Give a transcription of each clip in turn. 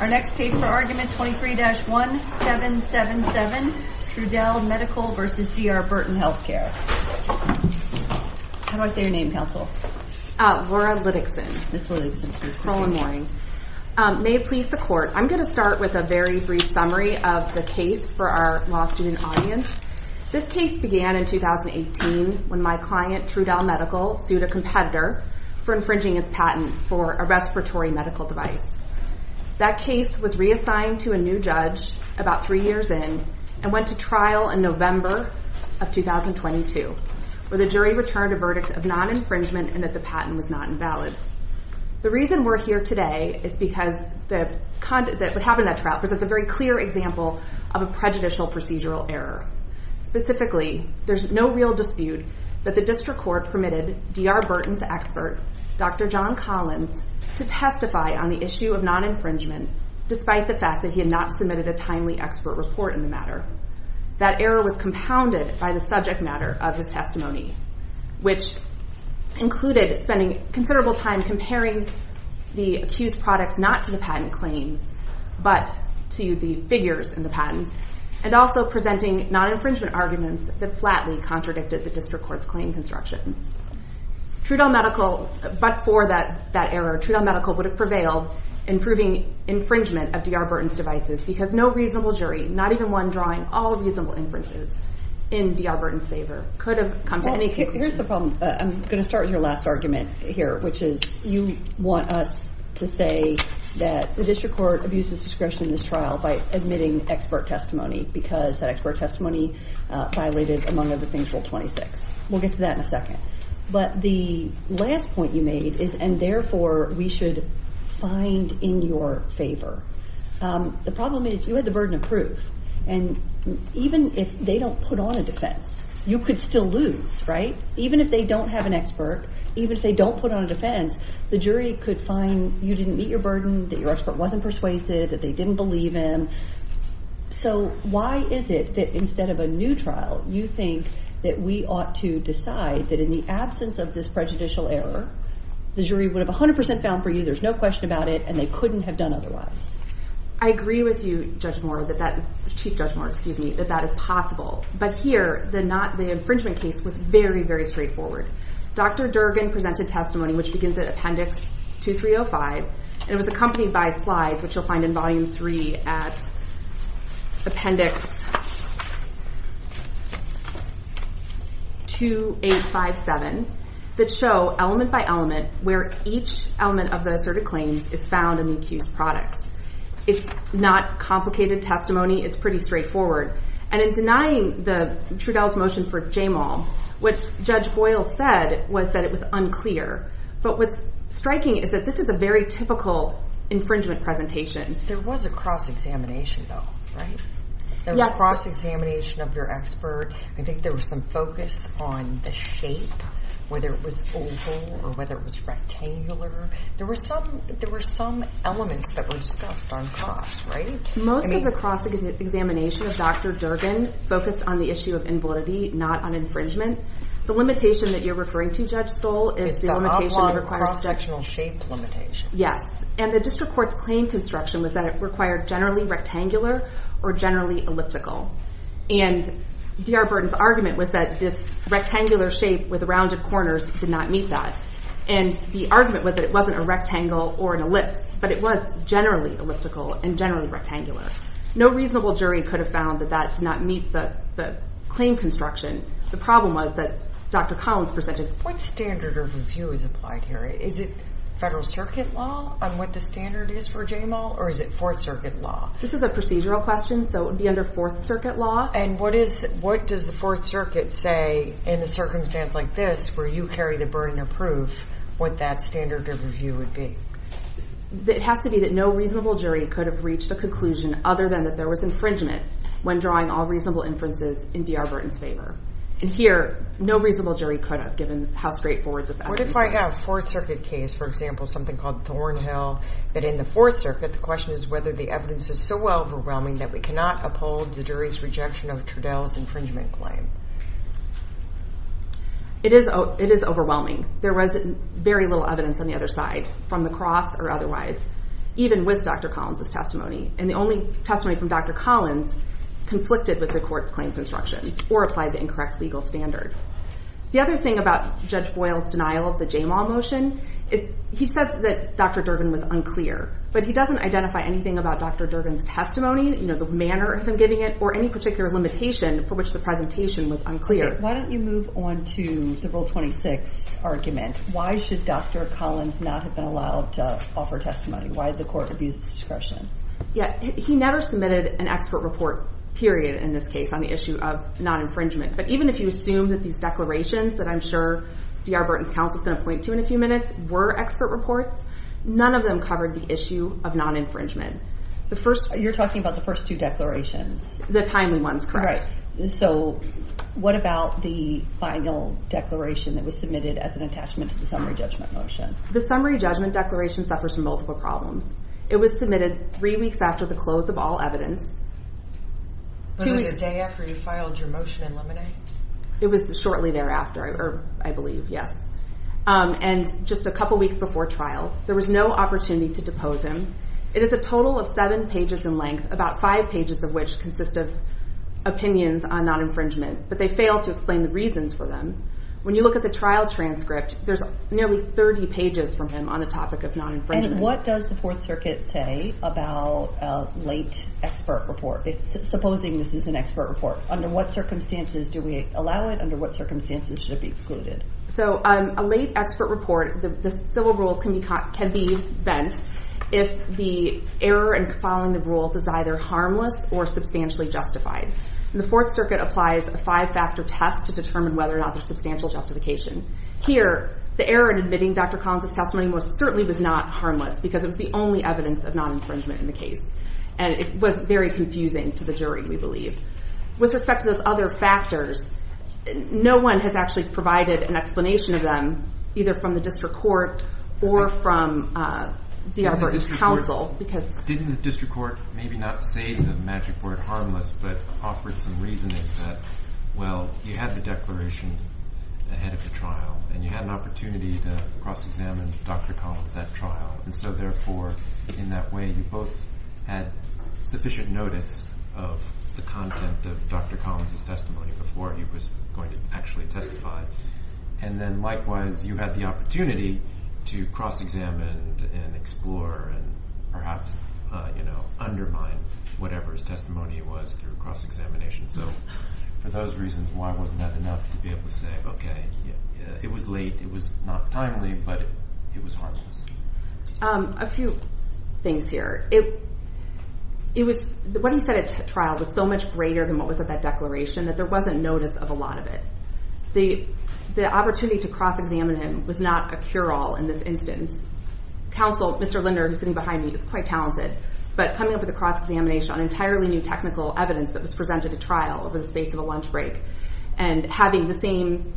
Our next case for argument 23-1777, Trudell Medical v. D R Burton Healthcare. How do I say your name, counsel? Laura Liddickson. Ms. Liddickson, please proceed. Roll on warning. May it please the court, I'm going to start with a very brief summary of the case for our law student audience. This case began in 2018 when my client, Trudell Medical, sued a competitor for infringing its patent for a respiratory medical device. That case was reassigned to a new judge about three years in and went to trial in November of 2022, where the jury returned a verdict of non-infringement and that the patent was not invalid. The reason we're here today is because what happened in that trial presents a very clear example of a prejudicial procedural error. Specifically, there's no real dispute that district court permitted D R Burton's expert, Dr. John Collins, to testify on the issue of non-infringement despite the fact that he had not submitted a timely expert report in the matter. That error was compounded by the subject matter of his testimony, which included spending considerable time comparing the accused products not to the patent claims, but to the figures in the patents, and also presenting non-infringement arguments that flatly contradicted the district court's claim constructions. Trudell Medical, but for that that error, Trudell Medical would have prevailed in proving infringement of D R Burton's devices because no reasonable jury, not even one drawing all reasonable inferences in D R Burton's favor, could have come to any conclusion. Here's the problem. I'm going to start with your last argument here, which is you want us to say that the district court abuses discretion in this trial by admitting expert testimony because that expert testimony violated, among other things, Rule 26. We'll get to that in a second. But the last point you made is, and therefore we should find in your favor, the problem is you had the burden of proof. And even if they don't put on a defense, you could still lose, right? Even if they don't have an expert, even if they don't put on a defense, the jury could find you didn't meet your burden, that your expert wasn't persuasive, that they didn't believe him. So why is it that instead of a new trial, you think that we ought to decide that in the absence of this prejudicial error, the jury would have 100% found for you, there's no question about it, and they couldn't have done otherwise? I agree with you, Judge Moore, Chief Judge Moore, excuse me, that that is possible. But here, the infringement case was very, very straightforward. Dr. Durgan presented testimony, which begins at Appendix 2305, and it was accompanied by slides, which you'll find in Volume 3 at Appendix 2857, that show element by element where each element of the asserted claims is found in the accused products. It's not complicated testimony. It's pretty straightforward. And in denying the Trudell's motion for J-Mal, what Judge Boyle said was that it was unclear. But what's striking is that this is a very typical infringement presentation. There was a cross-examination though, right? There was a cross-examination of your expert. I think there was some focus on the shape, whether it was oval or whether it was rectangular. There were some elements that were discussed on cross, right? Most of the cross-examination of Dr. Durgan focused on the issue of invalidity, not on infringement. The limitation that you're referring to, Judge Stoll, is the limitation that requires... It's the oblong, cross-sectional shape limitation. Yes. And the district court's claim construction was that it required generally rectangular or generally elliptical. And D.R. Burton's argument was that this rectangular shape with the rounded corners did not meet that. And the argument was that it wasn't a rectangle or an ellipse, but it was generally elliptical and generally rectangular. No reasonable jury could have found that that did not meet the claim construction. The problem was that Dr. Collins presented... What standard of review is applied here? Is it Federal Circuit law on what the standard is for JMO or is it Fourth Circuit law? This is a procedural question, so it would be under Fourth Circuit law. And what does the Fourth Circuit say in a circumstance like this, where you carry the burden of proof, what that standard of review would be? It has to be that no reasonable jury could have reached a conclusion other than that there was infringement when drawing all reasonable inferences in D.R. Burton's favor. And here, no reasonable jury could have, given how straightforward this evidence is. What if I have a Fourth Circuit case, for example, something called Thornhill, but in the Fourth Circuit, the question is whether the evidence is so overwhelming that we cannot uphold the jury's rejection of Trudell's infringement claim? It is overwhelming. There was very little evidence on the other side, from the cross or otherwise, even with Dr. Collins' testimony. And the only testimony from Dr. Collins conflicted with the court's claim constructions or applied the incorrect legal standard. The other thing about Judge Boyle's denial of the JMO motion is he says that Dr. Durbin was unclear, but he doesn't identify anything about Dr. Durbin's testimony, the manner of him giving it, or any particular limitation for which the presentation was unclear. Why don't you move on to the Rule 26 argument? Why should Dr. Collins not have been allowed to offer testimony? Why the court abused discretion? He never submitted an expert report, period, in this case on the issue of non-infringement. But even if you assume that these declarations that I'm sure D.R. Burton's counsel is going to point to in a few minutes were expert reports, none of them covered the issue of non-infringement. You're talking about the first two declarations? The timely ones, correct. So what about the final declaration that was submitted as an attachment to the summary judgment motion? The summary judgment declaration suffers from multiple problems. It was submitted three weeks after the close of all evidence. Wasn't it a day after you filed your motion in Lemonade? It was shortly thereafter, I believe, yes. And just a couple weeks before trial. There was no opportunity to depose him. It is a total of seven pages in length, about five pages of which consist of opinions on non-infringement. But they fail to explain the reasons for them. When you look at the trial transcript, there's nearly 30 pages from him on the topic of non-infringement. And what does the Fourth Circuit say about a late expert report? Supposing this is an expert report, under what circumstances do we allow it? Under what circumstances should it be excluded? So a late expert report, the civil rules can be bent if the error in following the rules is either harmless or substantially justified. And the Fourth Circuit applies a five-factor test to determine whether or not there's substantial justification. Here, the error in admitting Dr. Collins' testimony most certainly was not harmless, because it was the only evidence of non-infringement in the case. And it was very confusing to the jury, we believe. With respect to those other factors, no one has actually provided an explanation of them, either from the district court or from D.R. Burton's counsel. Didn't the district court maybe not say the magic word harmless, but offered some reasoning that, well, you had the declaration ahead of the trial. And you had an opportunity to cross-examine Dr. Collins at trial. And so therefore, in that way, you both had sufficient notice of the content of Dr. Collins' testimony before he was going to actually testify. And then, likewise, you had the opportunity to cross-examine and explore and perhaps undermine whatever his testimony was through cross-examination. So for those reasons, why wasn't that enough to be able to say, OK, it was late, it was not timely, but it was harmless? A few things here. What he said at trial was so much greater than what was at that declaration that there wasn't notice of a lot of it. The opportunity to cross-examine him was not a cure-all in this instance. Counsel, Mr. Linder, who's sitting behind me, is quite talented, but coming up with a cross-examination on entirely new technical evidence that was presented at trial over the space of a lunch break and having the same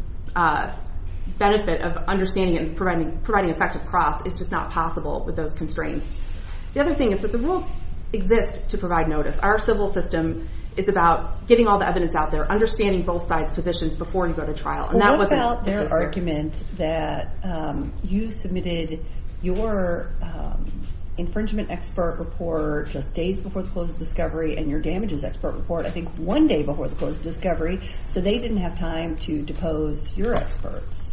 benefit of understanding and providing effective cross is just not possible with those constraints. The other thing is that the rules exist to provide notice. Our civil system is about getting all the evidence out there, understanding both sides' positions before you go to trial. And that wasn't the case, sir. What about their argument that you submitted your infringement expert report just days before the close of discovery and your damages expert report, I think, one day before the close of discovery, so they didn't have time to depose your experts?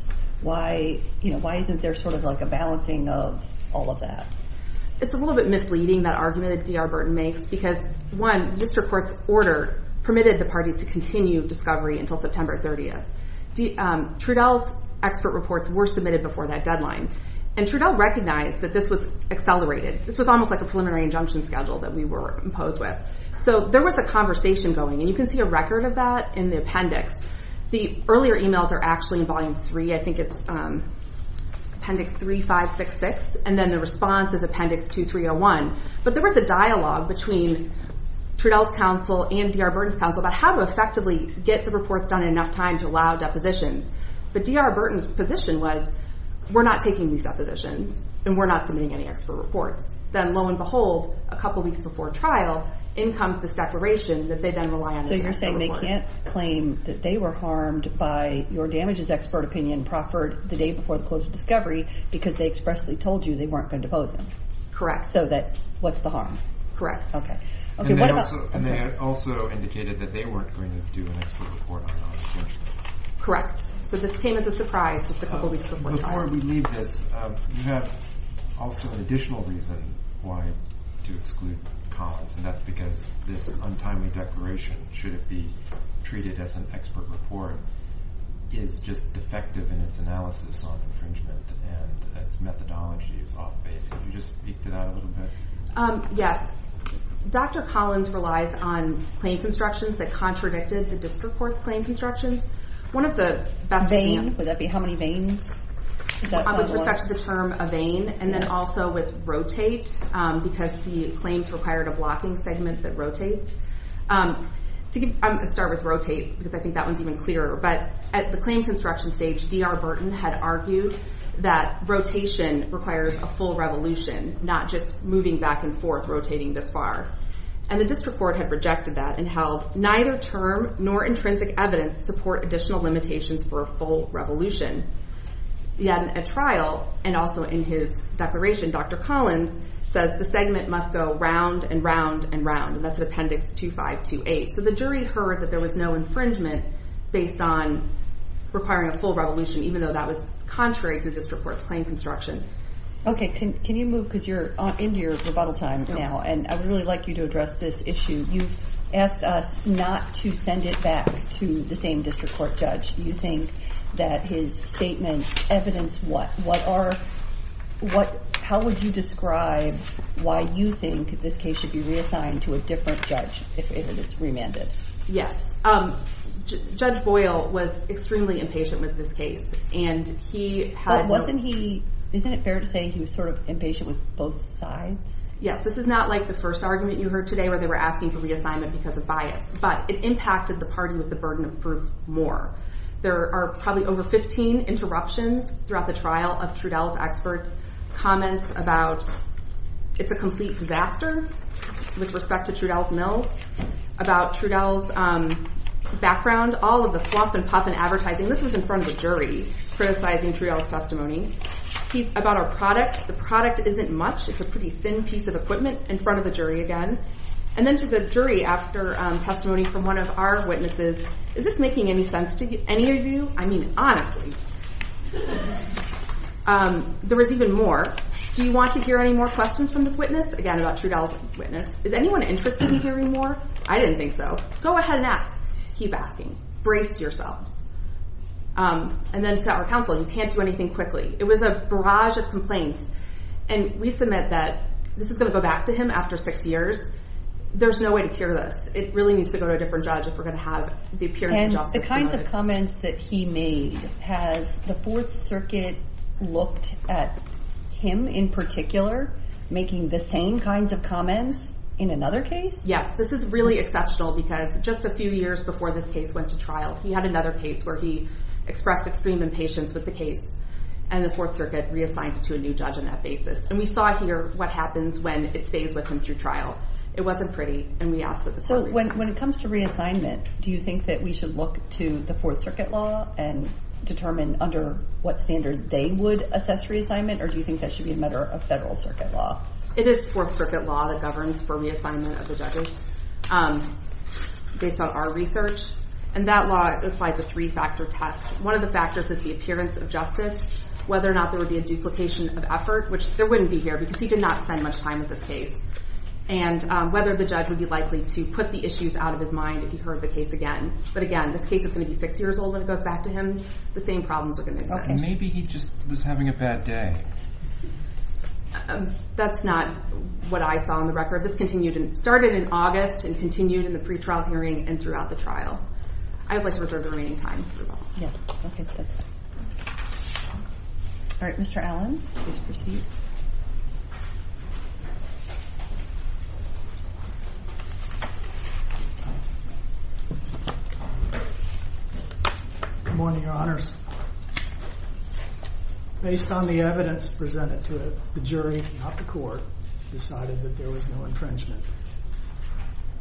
Why isn't there sort of like a balancing of all of that? It's a little bit misleading, that argument that D.R. Burton makes, because, one, the Trudell's expert reports were submitted before that deadline. And Trudell recognized that this was accelerated. This was almost like a preliminary injunction schedule that we were imposed with. So there was a conversation going. And you can see a record of that in the appendix. The earlier emails are actually in Volume 3. I think it's Appendix 3566. And then the response is Appendix 2301. But there was a dialogue between Trudell's counsel and D.R. Burton's counsel about how to effectively get the reports done in enough time to allow depositions. But D.R. Burton's position was, we're not taking these depositions, and we're not submitting any expert reports. Then, lo and behold, a couple weeks before trial, in comes this declaration that they then rely on this expert report. So you're saying they can't claim that they were harmed by your damages expert opinion proffered the day before the close of discovery because they expressly told you they weren't going to depose them? Correct. So that, what's the harm? Correct. Okay. And they also indicated that they weren't going to do an expert report on non-extinction. Correct. So this came as a surprise just a couple weeks before trial. Before we leave this, you have also an additional reason why to exclude Collins. And that's because this untimely declaration, should it be treated as an expert report, is just defective in its analysis on infringement. And its methodology is off-base. Can you just speak to that a little bit? Yes. Dr. Collins relies on claim constructions that contradicted the district court's claim constructions. One of the best- Vein? Would that be how many veins? With respect to the term a vein. And then also with rotate because the claims required a blocking segment that rotates. I'm going to start with rotate because I think that one's even clearer. But at the claim construction stage, D.R. Burton had argued that rotation requires a full revolution, not just moving back and forth, rotating this far. And the district court had rejected that and held, neither term nor intrinsic evidence support additional limitations for a full revolution. Yet at trial, and also in his declaration, Dr. Collins says the segment must go round and round and round. And that's an appendix 2528. So the jury heard that there was no infringement based on requiring a full revolution, even though that was contrary to district court's claim construction. Okay. Can you move? Because you're into your rebuttal time now. And I would really like you to address this issue. You've asked us not to send it back to the same district court judge. You think that his statements evidence what? How would you describe why you think this case should be reassigned to a different judge if it is remanded? Yes. Judge Boyle was extremely impatient with this case. And he had- Isn't it fair to say he was sort of impatient with both sides? Yes. This is not like the first argument you heard today, where they were asking for reassignment because of bias. But it impacted the party with the burden of proof more. There are probably over 15 interruptions throughout the trial of Trudell's experts. Comments about, it's a complete disaster with respect to Trudell's mills. About Trudell's background, all of the fluff and puff and advertising. This was in front of a jury criticizing Trudell's testimony. About our product, the product isn't much. It's a pretty thin piece of equipment in front of the jury again. And then to the jury after testimony from one of our witnesses. Is this making any sense to any of you? I mean, honestly. There was even more. Do you want to hear any more questions from this witness? Again, about Trudell's witness. Is anyone interested in hearing more? I didn't think so. Go ahead and ask. Keep asking. Brace yourselves. And then to our counsel. You can't do anything quickly. It was a barrage of complaints. And we submit that this is going to go back to him after six years. There's no way to cure this. It really needs to go to a different judge if we're going to have the appearance of justice. The kinds of comments that he made. Has the Fourth Circuit looked at him in particular making the same kinds of comments in another case? Yes. This is really exceptional because just a few years before this case went to trial, he had another case where he expressed extreme impatience with the case. And the Fourth Circuit reassigned it to a new judge on that basis. And we saw here what happens when it stays with him through trial. It wasn't pretty. And we asked that the court reason. So when it comes to reassignment, do you think that we should look to the Fourth Circuit law and determine under what standard they would assess reassignment? Or do you think that should be a matter of federal circuit law? It is Fourth Circuit law that governs for reassignment of the judges based on our research. And that law applies a three-factor test. One of the factors is the appearance of justice. Whether or not there would be a duplication of effort, which there wouldn't be here because he did not spend much time with this case. And whether the judge would be likely to put the issues out of his mind if he heard the case again. But again, this case is going to be six years old when it goes back to him. The same problems are going to exist. Maybe he just was having a bad day. That's not what I saw on the record. This continued and started in August and continued in the pretrial hearing and throughout the trial. I would like to reserve the remaining time. Yes. All right. Mr. Allen, please proceed. Good morning, your honors. Based on the evidence presented to the jury, not the court, decided that there was no infringement.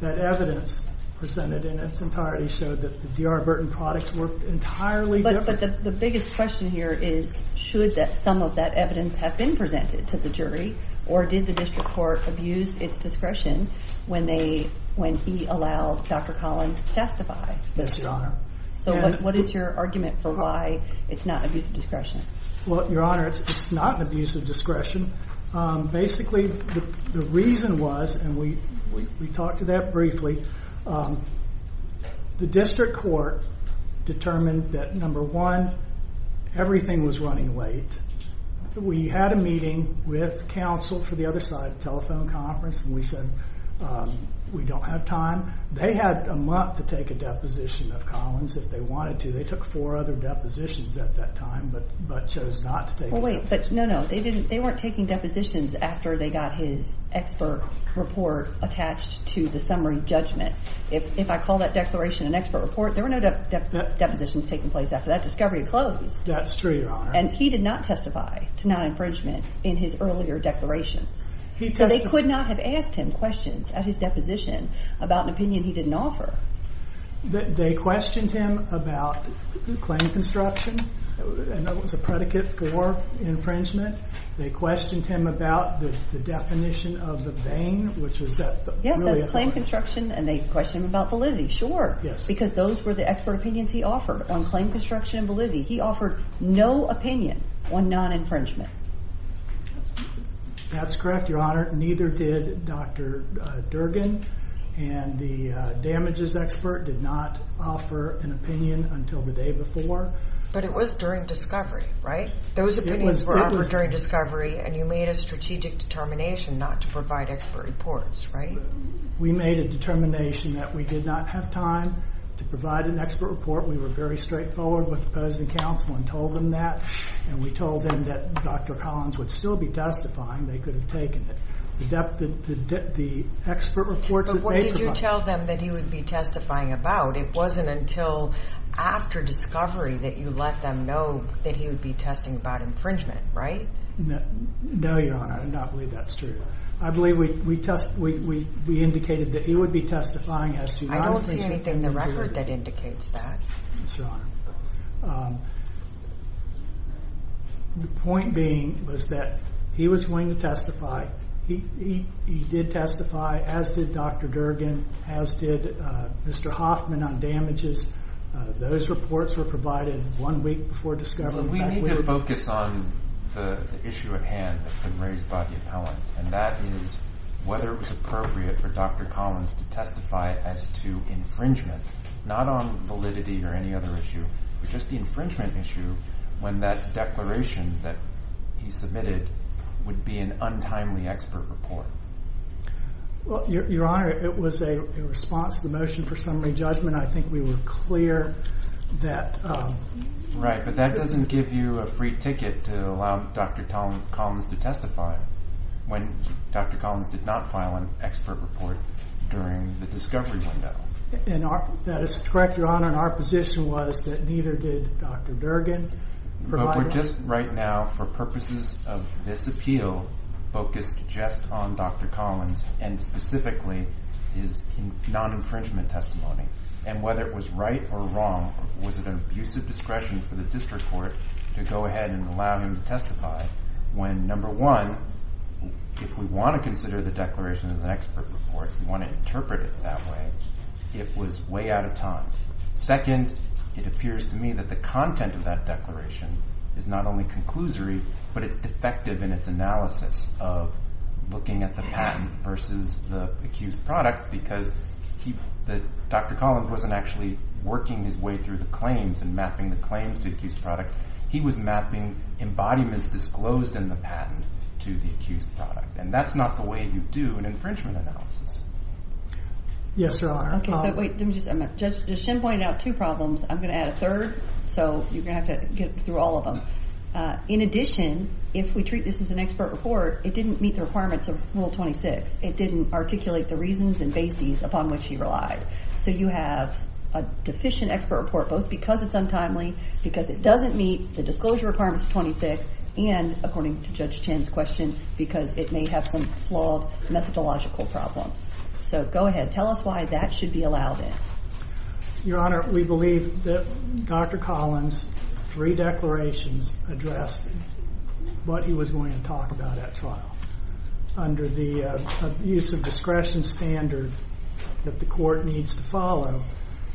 And that evidence presented in its entirety showed that the D.R. Burton products were entirely different. But the biggest question here is, should some of that evidence have been presented to the jury, or did the district court abuse its discretion when he allowed Dr. Collins to testify? Yes, your honor. So what is your argument for why it's not an abuse of discretion? Well, your honor, it's not an abuse of discretion. Basically, the reason was, and we talked to that briefly, the district court determined that, number one, everything was running late. We had a meeting with counsel for the other side of the telephone conference, and we said, we don't have time. They had a month to take a deposition of Collins if they wanted to. They took four other depositions at that time, but chose not to take it. No, no. They weren't taking depositions after they got his expert report attached to the summary judgment. If I call that declaration an expert report, there were no depositions taking place after that discovery had closed. That's true, your honor. And he did not testify to non-infringement in his earlier declarations. So they could not have asked him questions at his deposition about an opinion he didn't offer. They questioned him about claim construction, and that was a predicate for infringement. They questioned him about the definition of the vein, which was that really a... Yes, that's claim construction, and they questioned him about validity. Sure. Because those were the expert opinions he offered on claim construction and validity. He offered no opinion on non-infringement. That's correct, your honor. Neither did Dr. Durgin, and the damages expert did not offer an opinion until the day before. But it was during discovery, right? Those opinions were offered during discovery, and you made a strategic determination not to provide expert reports, right? We made a determination that we did not have time to provide an expert report. We were very straightforward with the opposing counsel and told them that, and we told them that Dr. Collins would still be testifying. They could have taken it. The expert reports that they provided... But what did you tell them that he would be testifying about? It wasn't until after discovery that you let them know that he would be testing about infringement, right? No, your honor. I do not believe that's true. I believe we indicated that he would be testifying as to non-infringement... I don't see anything in the record that indicates that. Yes, your honor. The point being was that he was going to testify. He did testify, as did Dr. Durgin, as did Mr. Hoffman on damages. Those reports were provided one week before discovery. But we need to focus on the issue at hand that's been raised by the appellant, and that is whether it was appropriate for Dr. Collins to testify as to infringement, not on validity or any other issue, but just the infringement issue when that declaration that he submitted would be an untimely expert report. Well, your honor, it was a response to the motion for summary judgment. I think we were clear that... Right, but that doesn't give you a free ticket to allow Dr. Collins to testify when Dr. Collins did not file an expert report during the discovery window. That is correct, your honor, and our position was that neither did Dr. Durgin. But we're just right now, for purposes of this appeal, focused just on Dr. Collins and specifically his non-infringement testimony. And whether it was right or wrong, was it an abusive discretion for the district court to go ahead and allow him to testify when, number one, if we want to consider the declaration as an expert report, we want to interpret it that way, it was way out of time. Second, it appears to me that the content of that declaration is not only conclusory, but it's defective in its analysis of looking at the patent versus the accused product because Dr. Collins wasn't actually working his way through the claims and mapping the claims to the accused product. He was mapping embodiments disclosed in the patent to the accused product. And that's not the way you do an infringement analysis. Yes, your honor. Okay, so wait, let me just... Judge Chen pointed out two problems. I'm going to add a third, so you're going to have to get through all of them. In addition, if we treat this as an expert report, it didn't meet the requirements of Rule 26. It didn't articulate the reasons and bases upon which he relied. So you have a deficient expert report, both because it's untimely, because it doesn't meet the disclosure requirements of 26, and according to Judge Chen's question, because it may have some flawed methodological problems. So go ahead, tell us why that should be allowed in. Your honor, we believe that Dr. Collins' three declarations addressed what he was going to talk about at trial. Under the use of discretion standard that the court needs to follow,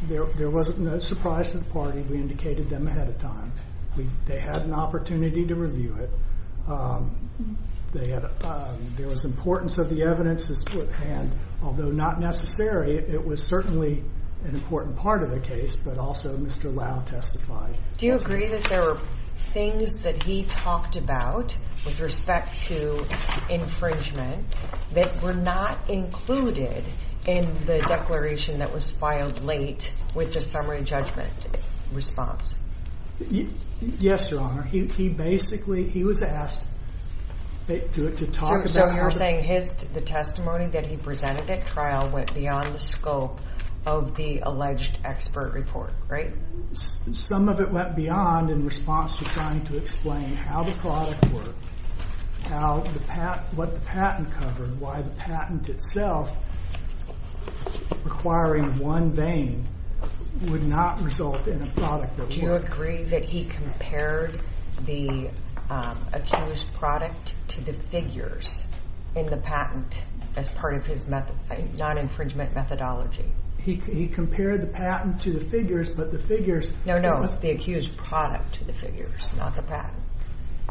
there was no surprise to the party. We indicated them ahead of time. They had an opportunity to review it. There was importance of the evidence at hand, although not necessary. It was certainly an important part of the case, but also Mr. Lau testified. Do you agree that there were things that he talked about with respect to infringement that were not included in the declaration that was filed late with the summary judgment response? Yes, your honor. He basically, he was asked to talk about... So you're saying the testimony that he presented at trial went beyond the scope of the alleged expert report, right? Some of it went beyond in response to trying to explain how the product worked, what the patent covered, why the patent itself, requiring one vein, would not result in a product that worked. Do you agree that he compared the accused product to the figures in the patent as part of his non-infringement methodology? He compared the patent to the figures, but the figures... No, no, it was the accused product to the figures, not the patent.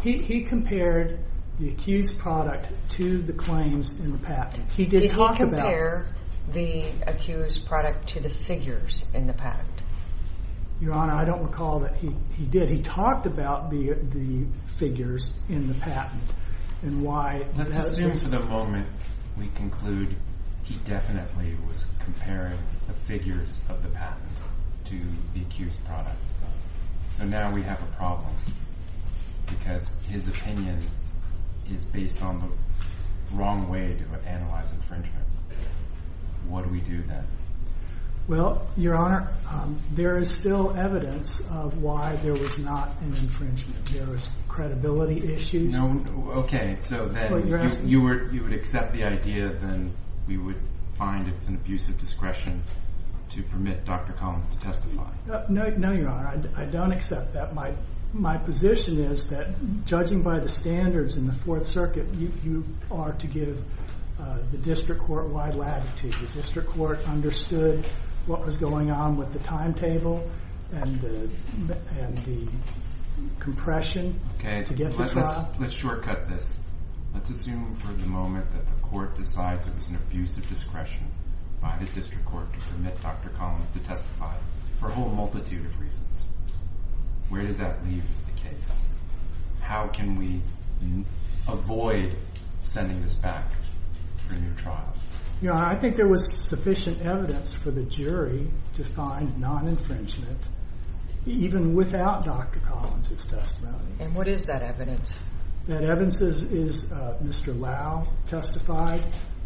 He compared the accused product to the claims in the patent. He did talk about... Did he compare the accused product to the figures in the patent? Your honor, I don't recall that he did. He talked about the figures in the patent and why... Let's assume for the moment we conclude he definitely was comparing the figures of the patent to the accused product. So now we have a problem because his opinion is based on the wrong way to analyze infringement. What do we do then? Well, your honor, there is still evidence of why there was not an infringement. There was credibility issues. No, okay, so then you would accept the idea, then we would find it's an abuse of discretion to permit Dr. Collins to testify. No, your honor, I don't accept that. My position is that judging by the standards in the Fourth Circuit, you are to give the district court wide latitude. The district court understood what was going on with the timetable and the compression to get the trial. Let's shortcut this. Let's assume for the moment that the court decides it was an abuse of discretion by the district court to permit Dr. Collins to testify for a whole multitude of reasons. Where does that leave the case? How can we avoid sending this back for a new trial? Your honor, I think there was sufficient evidence for the jury to find non-infringement, even without Dr. Collins' testimony. And what is that evidence? That evidence is Mr. Lau testified.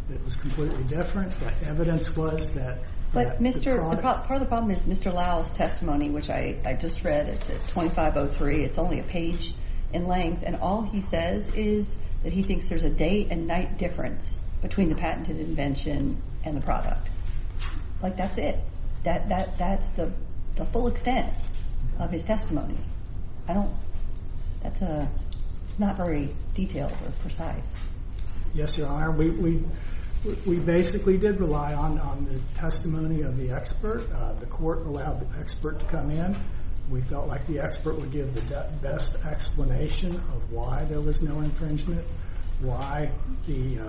It was completely different. The evidence was that the product- But part of the problem is Mr. Lau's testimony, which I just read. It's at 2503. It's only a page in length. And all he says is that he thinks there's a day and night difference between the patented invention and the product. That's it. That's the full extent of his testimony. That's not very detailed or precise. Yes, your honor. We basically did rely on the testimony of the expert. The court allowed the expert to come in. We felt like the expert would give the best explanation of why there was no infringement, why the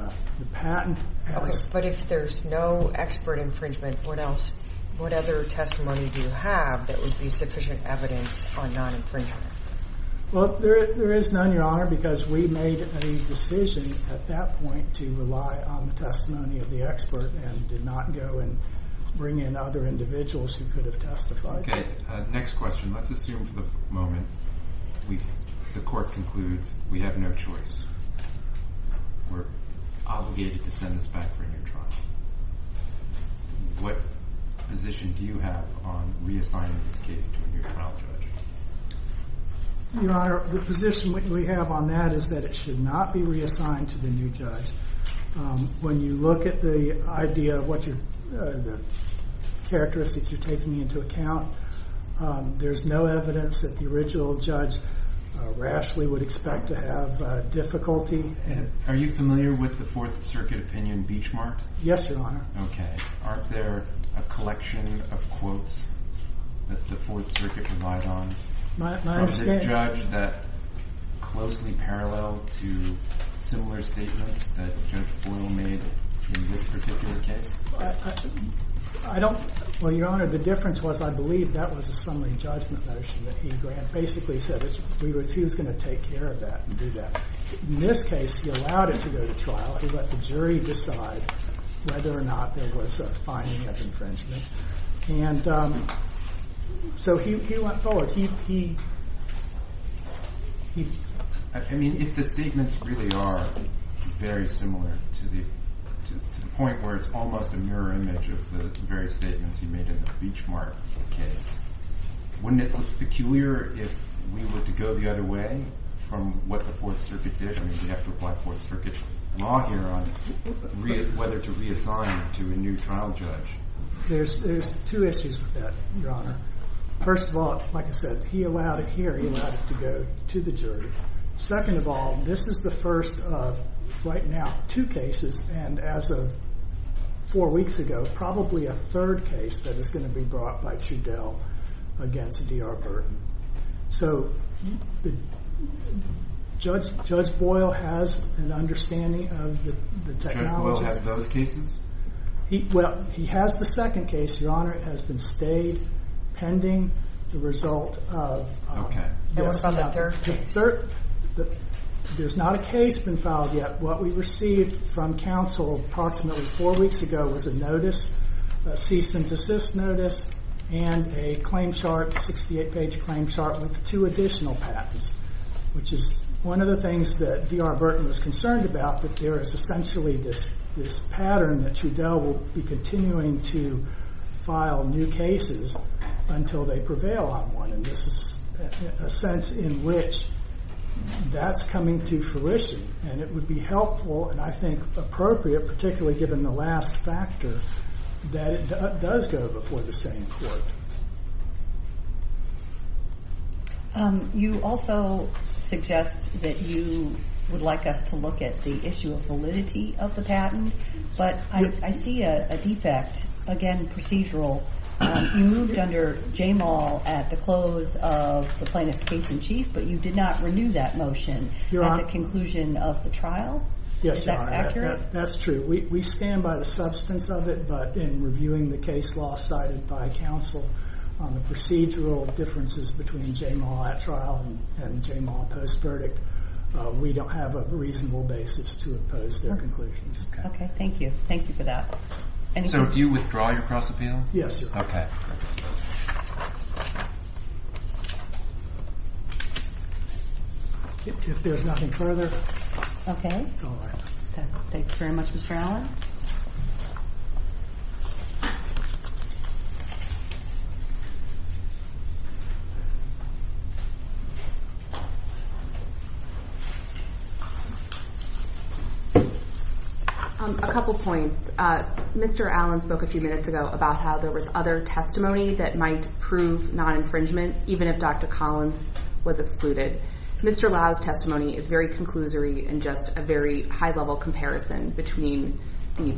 patent has- But if there's no expert infringement, what other testimony do you have that would be sufficient evidence on non-infringement? Well, there is none, your honor, because we made a decision at that point to rely on the testimony of the expert and did not go and bring in other individuals who could have testified. Okay, next question. Let's assume for the moment the court concludes we have no choice. We're obligated to send this back for a new trial. What position do you have on reassigning this case to a new trial judge? Your honor, the position we have on that is that it should not be reassigned to the new judge. When you look at the idea of what your characteristics are taking into account, there's no evidence that the original judge rashly would expect to have difficulty. Are you familiar with the Fourth Circuit opinion, Beachmark? Yes, your honor. Okay. Aren't there a collection of quotes that the Fourth Circuit relied on- My understanding- From this judge that closely parallel to similar statements that Judge Boyle made in this particular case? I don't- Your honor, the difference was I believe that was a summary judgment motion that he basically said he was going to take care of that and do that. In this case, he allowed it to go to trial. He let the jury decide whether or not there was a finding of infringement. So he went forward. I mean, if the statements really are very similar to the point where it's almost a made in the Beachmark case, wouldn't it look peculiar if we were to go the other way from what the Fourth Circuit did? I mean, we have to apply Fourth Circuit law here on whether to reassign to a new trial judge. There's two issues with that, your honor. First of all, like I said, he allowed it here. He allowed it to go to the jury. Second of all, this is the first of, right now, two cases. And as of four weeks ago, probably a third case that is going to be brought by Trudell against D.R. Burton. So Judge Boyle has an understanding of the technology. Judge Boyle has those cases? Well, he has the second case, your honor. It has been stayed pending the result of- Okay. It was on that third case. There's not a case been filed yet. What we received from counsel approximately four weeks ago was a notice, a cease and desist notice, and a claim chart, 68-page claim chart with two additional patents, which is one of the things that D.R. Burton was concerned about, that there is essentially this pattern that Trudell will be continuing to file new cases until they prevail on one. And this is a sense in which that's coming to fruition. And it would be helpful, and I think appropriate, particularly given the last factor, that it does go before the same court. You also suggest that you would like us to look at the issue of validity of the patent. But I see a defect. Again, procedural. You moved under Jamal at the close of the plaintiff's case in chief, but you did not renew that motion at the conclusion of the trial? Yes, Your Honor. That's true. We stand by the substance of it, but in reviewing the case law cited by counsel on the procedural differences between Jamal at trial and Jamal post-verdict, we don't have a reasonable basis to oppose their conclusions. Okay. Thank you. Thank you for that. So do you withdraw your cross-appeal? Yes. Okay. If there's nothing further... Okay. Thank you very much, Mr. Allen. A couple points. Mr. Allen spoke a few minutes ago about how there was other testimony that might prove non-infringement, even if Dr. Collins was excluded. Mr. Lau's testimony is very conclusory and just a very high-level comparison between the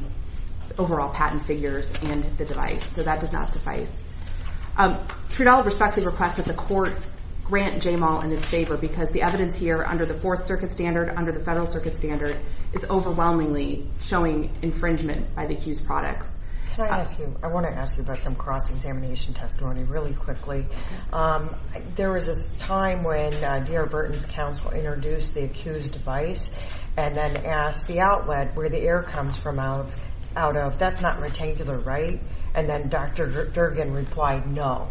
overall patent figures and the device. So that does not suffice. Trudeau respectfully requests that the court grant Jamal in its favor because the evidence here under the Fourth Circuit standard, under the Federal Circuit standard, is overwhelmingly showing infringement by the accused products. Can I ask you... I want to ask you about some cross-examination testimony really quickly. There was a time when D.R. Burton's counsel introduced the accused device and then asked the outlet where the air comes from out of, that's not rectangular, right? And then Dr. Durgan replied, no,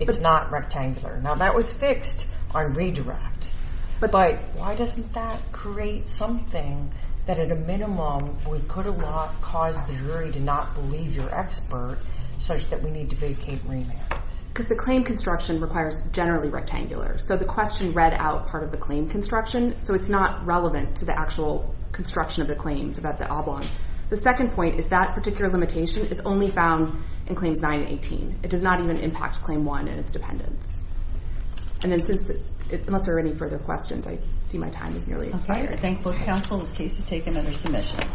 it's not rectangular. Now that was fixed on redirect, but why doesn't that create something that at a minimum would put a lock, cause the jury to not believe your expert, such that we need to vacate remand? Because the claim construction requires generally rectangular, so the question read out part of the claim construction, so it's not relevant to the actual construction of the claims about the oblong. The second point is that particular limitation is only found in Claims 9 and 18. It does not even impact Claim 1 and its dependence. And then since, unless there are any further questions, I see my time is nearly expired. I thank both counsel. The case is taken under submission.